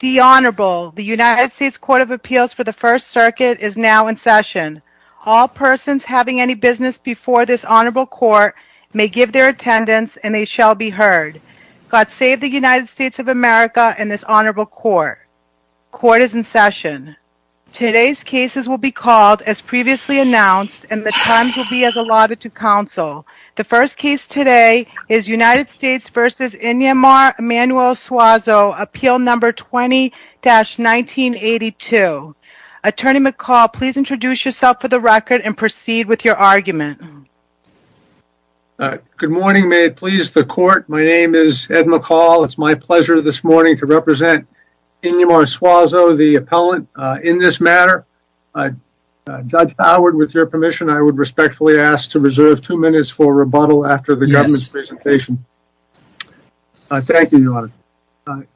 The Honorable, the United States Court of Appeals for the First Circuit is now in session. All persons having any business before this Honorable Court may give their attendance and they shall be heard. God save the United States of America and this Honorable Court. Court is in session. Today's cases will be called as previously announced and the times will be as allotted to counsel. The first case today is United States v. Inyemar Emanuel Suazo, Appeal No. 20-1982. Attorney McCall, please introduce yourself for the record and proceed with your argument. Good morning, may it please the Court, my name is Ed McCall. It's my pleasure this morning to represent Inyemar Suazo, the appellant, in this matter. Judge Howard, with your permission, I would respectfully ask to reserve two minutes for rebuttal after the government's presentation. Thank you, Your Honor. I'm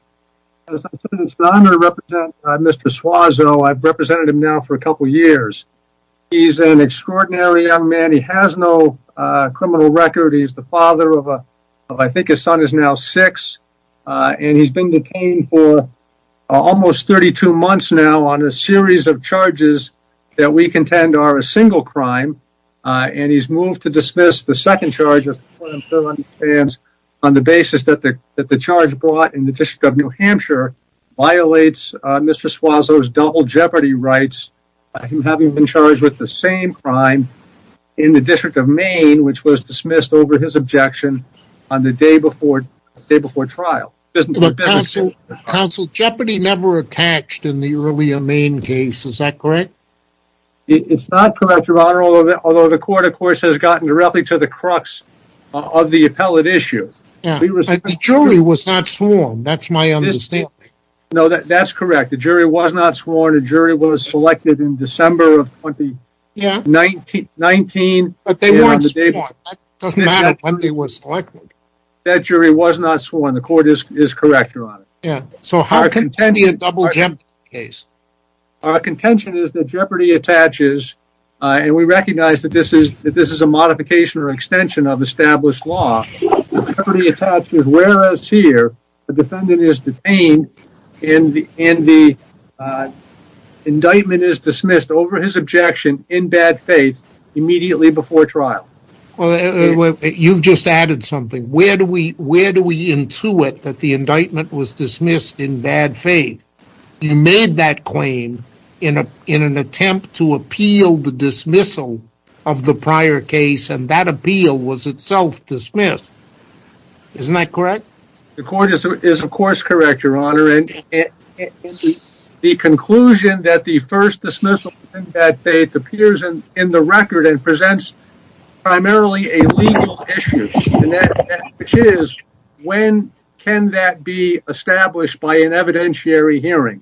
going to represent Mr. Suazo. I've represented him now for a couple of years. He's an extraordinary young man. He has no criminal record. He's the father of, I think his son is now six, and he's been detained for almost 32 months now on a series of charges that we contend are a single crime, and he's moved to dismiss the second charge on the basis that the charge brought in the District of New Hampshire violates Mr. Suazo's double jeopardy rights, him having been charged with the same crime in the District of Maine, which was dismissed over his objection on the day before trial. Counsel, jeopardy never attached in the earlier Maine case, is that correct? It's not correct, Your Honor, although the court, of course, has gotten directly to the crux of the appellate issue. The jury was not sworn, that's my understanding. No, that's correct. The jury was not sworn. The jury was selected in December of 2019. But they weren't sworn. It doesn't matter when they were selected. That jury was not sworn. The contention is that jeopardy attaches, and we recognize that this is a modification or extension of established law, jeopardy attaches whereas here the defendant is detained and the indictment is dismissed over his objection in bad faith immediately before trial. Well, you've just added something. Where do we intuit that the indictment was dismissed in bad faith? You made that claim in an attempt to appeal the dismissal of the prior case, and that appeal was itself dismissed. Isn't that correct? The court is, of course, correct, Your Honor, and the conclusion that the first dismissal in bad faith appears in the record and presents primarily a legal issue, which is when can that be established by an evidentiary hearing?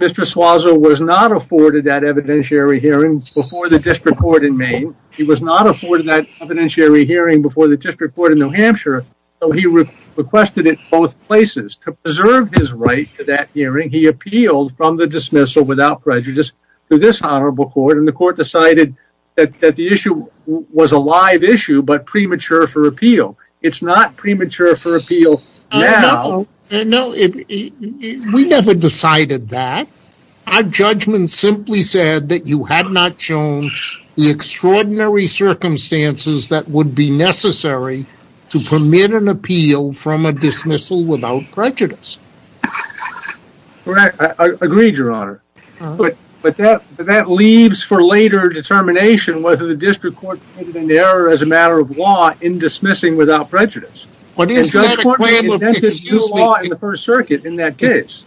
Mr. Suazo was not afforded that evidentiary hearing before the district court in Maine. He was not afforded that evidentiary hearing before the district court in New Hampshire, so he requested it both places. To preserve his right to that hearing, he appealed from the dismissal without prejudice to this honorable court, and the court decided that the issue was a live issue but premature for appeal. It's not premature for appeal now. We never decided that. Our judgment simply said that you had not shown the extraordinary circumstances that would be necessary to permit an appeal from a dismissal without prejudice. Agreed, Your Honor, but that leaves for later determination whether the district court made an error as a matter of law in dismissing without prejudice. But is that a claim of the First Circuit in that case?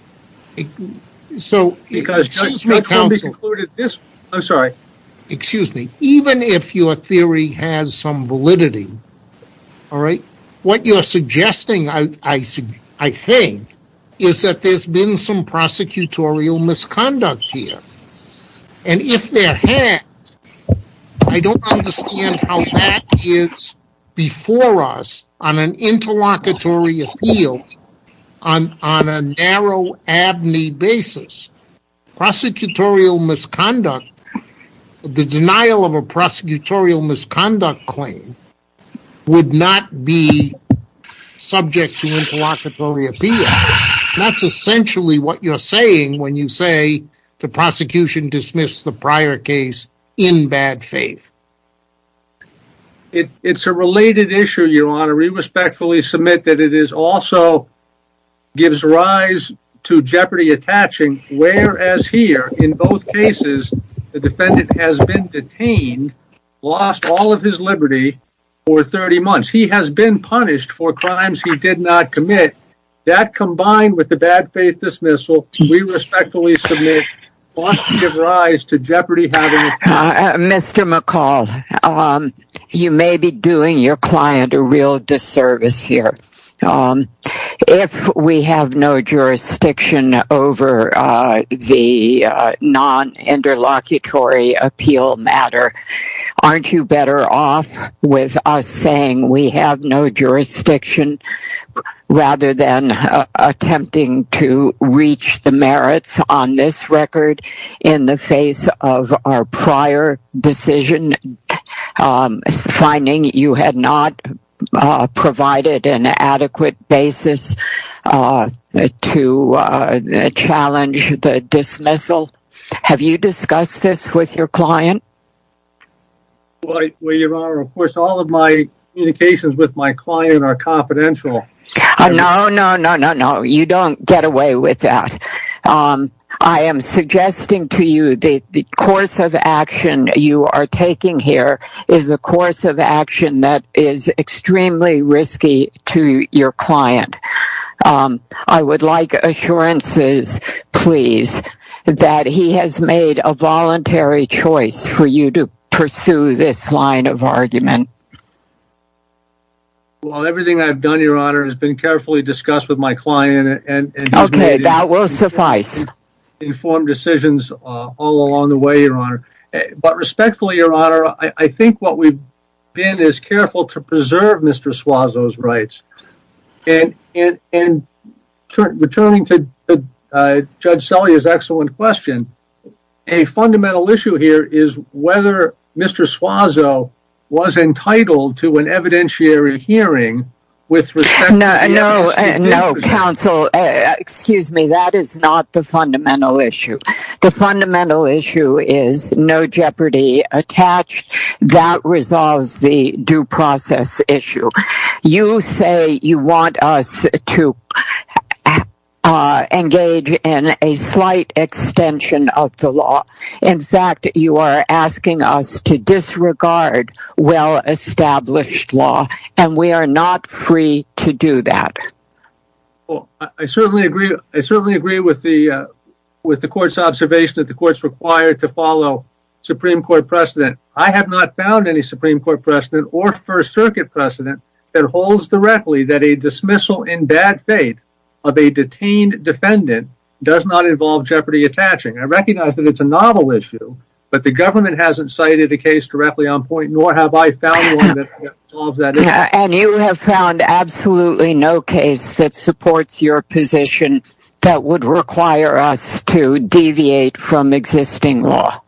Excuse me, even if your theory has some validity, what you're suggesting, I think, is that there's been some prosecutorial misconduct here, and if there had, I don't understand how that is before us on an interlocutory appeal on a narrow abney basis. Prosecutorial misconduct, the denial of a prosecutorial misconduct claim would not be subject to interlocutory appeal. That's essentially what you're saying when you say the prosecution dismissed the prior case in bad faith. It's a related issue, Your Honor. We as here, in both cases, the defendant has been detained, lost all of his liberty for 30 months. He has been punished for crimes he did not commit. That combined with the bad faith dismissal, we respectfully submit, wants to give rise to jeopardy. Mr. McCall, you may be doing your the non-interlocutory appeal matter. Aren't you better off with us saying we have no jurisdiction rather than attempting to reach the merits on this record in the face of our prior decision, um, finding you had not provided an adequate basis to challenge the dismissal? Have you discussed this with your client? Well, Your Honor, of course, all of my communications with my client are confidential. No, no, no, no, no. You don't get away with that. Um, I am suggesting to you that the course of action you are taking here is a course of action that is extremely risky to your client. Um, I would like assurances, please, that he has made a voluntary choice for you to pursue this line of argument. Well, everything I've done, Your Honor, has been carefully discussed with my client. Okay, that will suffice. Informed decisions all along the way, Your Honor. But respectfully, Your Honor, I think what we've been is careful to preserve Mr. Suazo's rights. And returning to Judge Selye's excellent question, a fundamental issue here is whether Mr. Suazo was entitled to an evidentiary hearing with respect... No, no, counsel, excuse me, that is not the fundamental issue. The fundamental issue is no jeopardy attached. That resolves the due process issue. You say you want us to engage in a slight extension of the law. In fact, you are asking us to disregard well-established law, and we are not free to do that. Well, I certainly agree. I certainly agree with the, uh, with the court's observation that the court's required to follow Supreme Court precedent. I have not found any Supreme Court precedent or First Circuit precedent that holds directly that a dismissal in bad faith of a detained defendant does not involve jeopardy attaching. I recognize that it's a novel issue, but the government hasn't cited the case directly nor have I found one that solves that issue. And you have found absolutely no case that supports your position that would require us to deviate from existing law.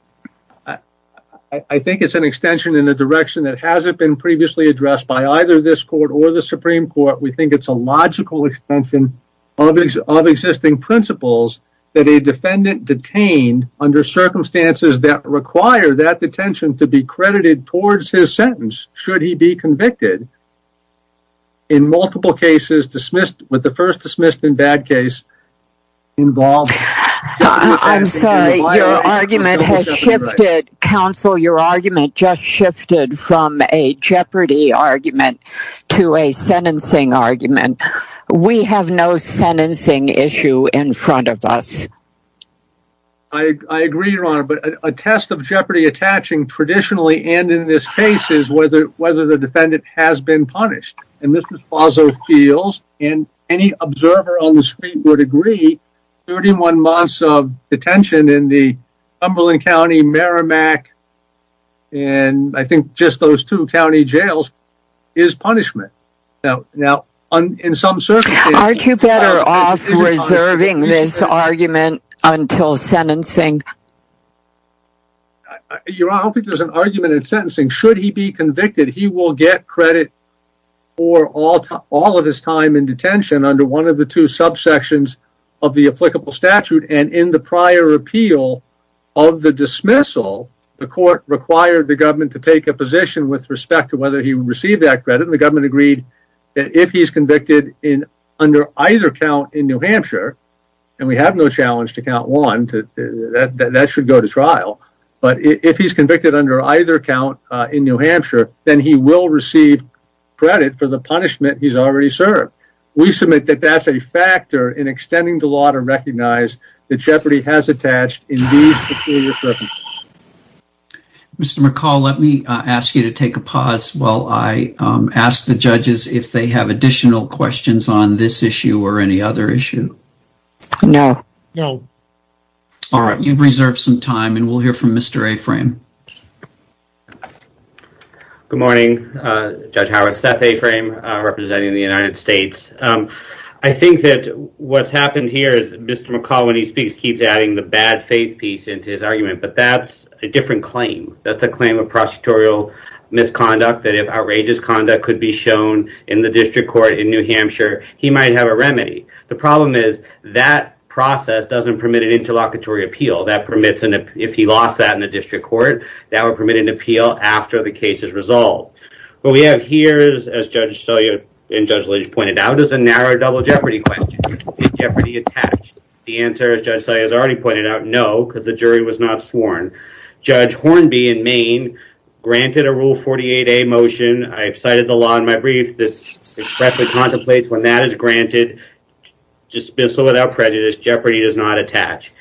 I think it's an extension in the direction that hasn't been previously addressed by either this court or the Supreme Court. We think it's a logical extension of existing principles that a defendant detained under circumstances that require that detention to be credited towards his sentence should he be convicted in multiple cases dismissed with the first dismissed in bad case involved. I'm sorry, your argument has shifted, counsel. Your argument just shifted from a jeopardy argument to a sentencing argument. We have no sentencing issue in front of us. I agree, your honor, but a test of jeopardy attaching traditionally and in this case is whether the defendant has been punished. And this is Faso Fields and any observer on the street would agree 31 months of detention in the some circumstances. Aren't you better off reserving this argument until sentencing? Your honor, I don't think there's an argument in sentencing. Should he be convicted, he will get credit for all of his time in detention under one of the two subsections of the applicable statute. And in the prior appeal of the dismissal, the court required the government to take a position with respect to whether he received that credit. The government agreed that if he's convicted in under either count in New Hampshire, and we have no challenge to count one to that, that should go to trial. But if he's convicted under either count in New Hampshire, then he will receive credit for the punishment he's already served. We submit that that's a factor in extending the law to recognize that jeopardy has attached. Mr. McCall, let me ask you to take a pause while I ask the judges if they have additional questions on this issue or any other issue. No, no. All right, you've reserved some time and we'll hear from Mr. A-Frame. Good morning, Judge Howard, Seth A-Frame representing the United States. I think that what's happened here is Mr. McCall, when he speaks, keeps adding the bad faith piece into his argument, but that's a different claim. That's a claim of prosecutorial misconduct that if outrageous conduct could be shown in the district court in New Hampshire, he might have a remedy. The problem is that process doesn't permit an interlocutory appeal. That permits, if he lost that in the district court, that would permit an appeal after the case is resolved. What we have here is, as Judge Selya and Judge Lynch pointed out, is a narrow double jeopardy question. Is jeopardy attached? The answer, as Judge Selya has already pointed out, no, because the jury was not sworn. Judge Hornby in Maine granted a Rule 48a motion. I've cited the law in my brief that expressly contemplates when that is granted, dismissal without prejudice, jeopardy does not attach.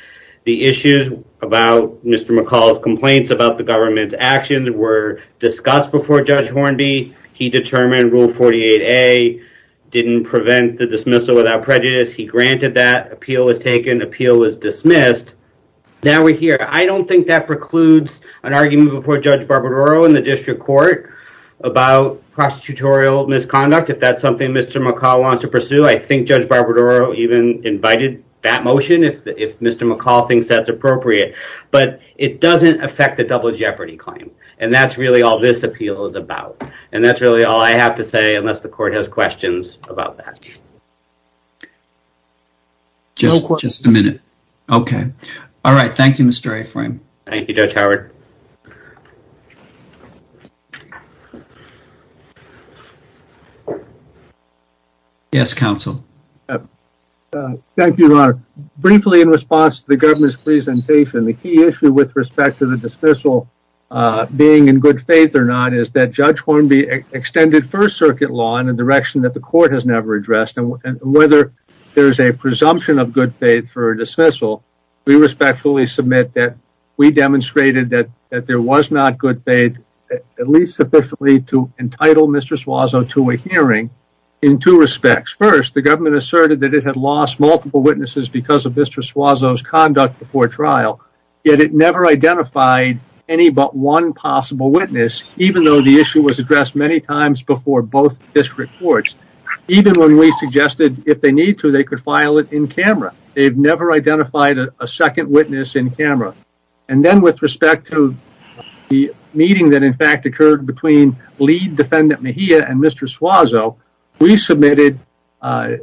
The issues about Mr. McCall's complaints about the government's actions were discussed before Judge Hornby. He determined Rule 48a didn't prevent the dismissal without prejudice. He granted that. Appeal was taken. Appeal was dismissed. Now we're here. I don't think that precludes an argument before Judge Barbadaro in the district court about prosecutorial misconduct. If that's something Mr. McCall wants to pursue, I think Judge Barbadaro even invited that motion if Mr. McCall thinks that's appropriate. It doesn't affect the double jeopardy claim. And that's really all this appeal is about. And that's really all I have to say unless the court has questions about that. Just a minute. Okay. All right. Thank you, Mr. Aframe. Thank you, Judge Howard. Yes, counsel. Thank you, Ron. Briefly in response to the dismissal, being in good faith or not, is that Judge Hornby extended First Circuit law in a direction that the court has never addressed. And whether there's a presumption of good faith for a dismissal, we respectfully submit that we demonstrated that there was not good faith, at least sufficiently, to entitle Mr. Suazo to a hearing in two respects. First, the government asserted that it had lost multiple witnesses because of Mr. Suazo's conduct before trial, yet it never identified any but one possible witness, even though the issue was addressed many times before both district courts. Even when we suggested if they need to, they could file it in camera. They've never identified a second witness in camera. And then with respect to the meeting that in fact occurred between lead defendant Mejia and Mr. Suazo, we submitted a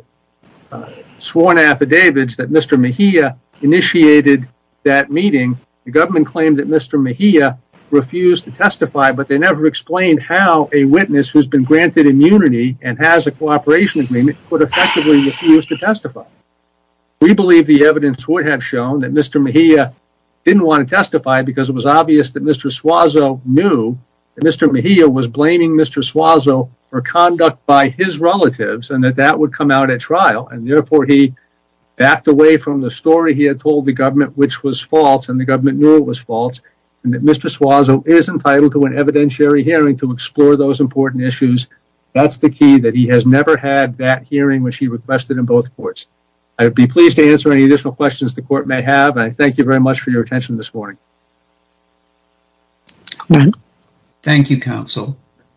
sworn affidavit that Mr. Mejia initiated that meeting. The government claimed that Mr. Mejia refused to testify, but they never explained how a witness who's been granted immunity and has a cooperation agreement could effectively refuse to testify. We believe the evidence would have shown that Mr. Mejia didn't want to testify because it was obvious that Mr. Suazo knew that Mejia was blaming Mr. Suazo for conduct by his relatives and that that would come out at trial, and therefore he backed away from the story he had told the government, which was false, and the government knew it was false, and that Mr. Suazo is entitled to an evidentiary hearing to explore those important issues. That's the key that he has never had that hearing, which he requested in both courts. I would be pleased to answer any additional questions the court may have. I thank you very much for your attention this morning. Thank you, counsel.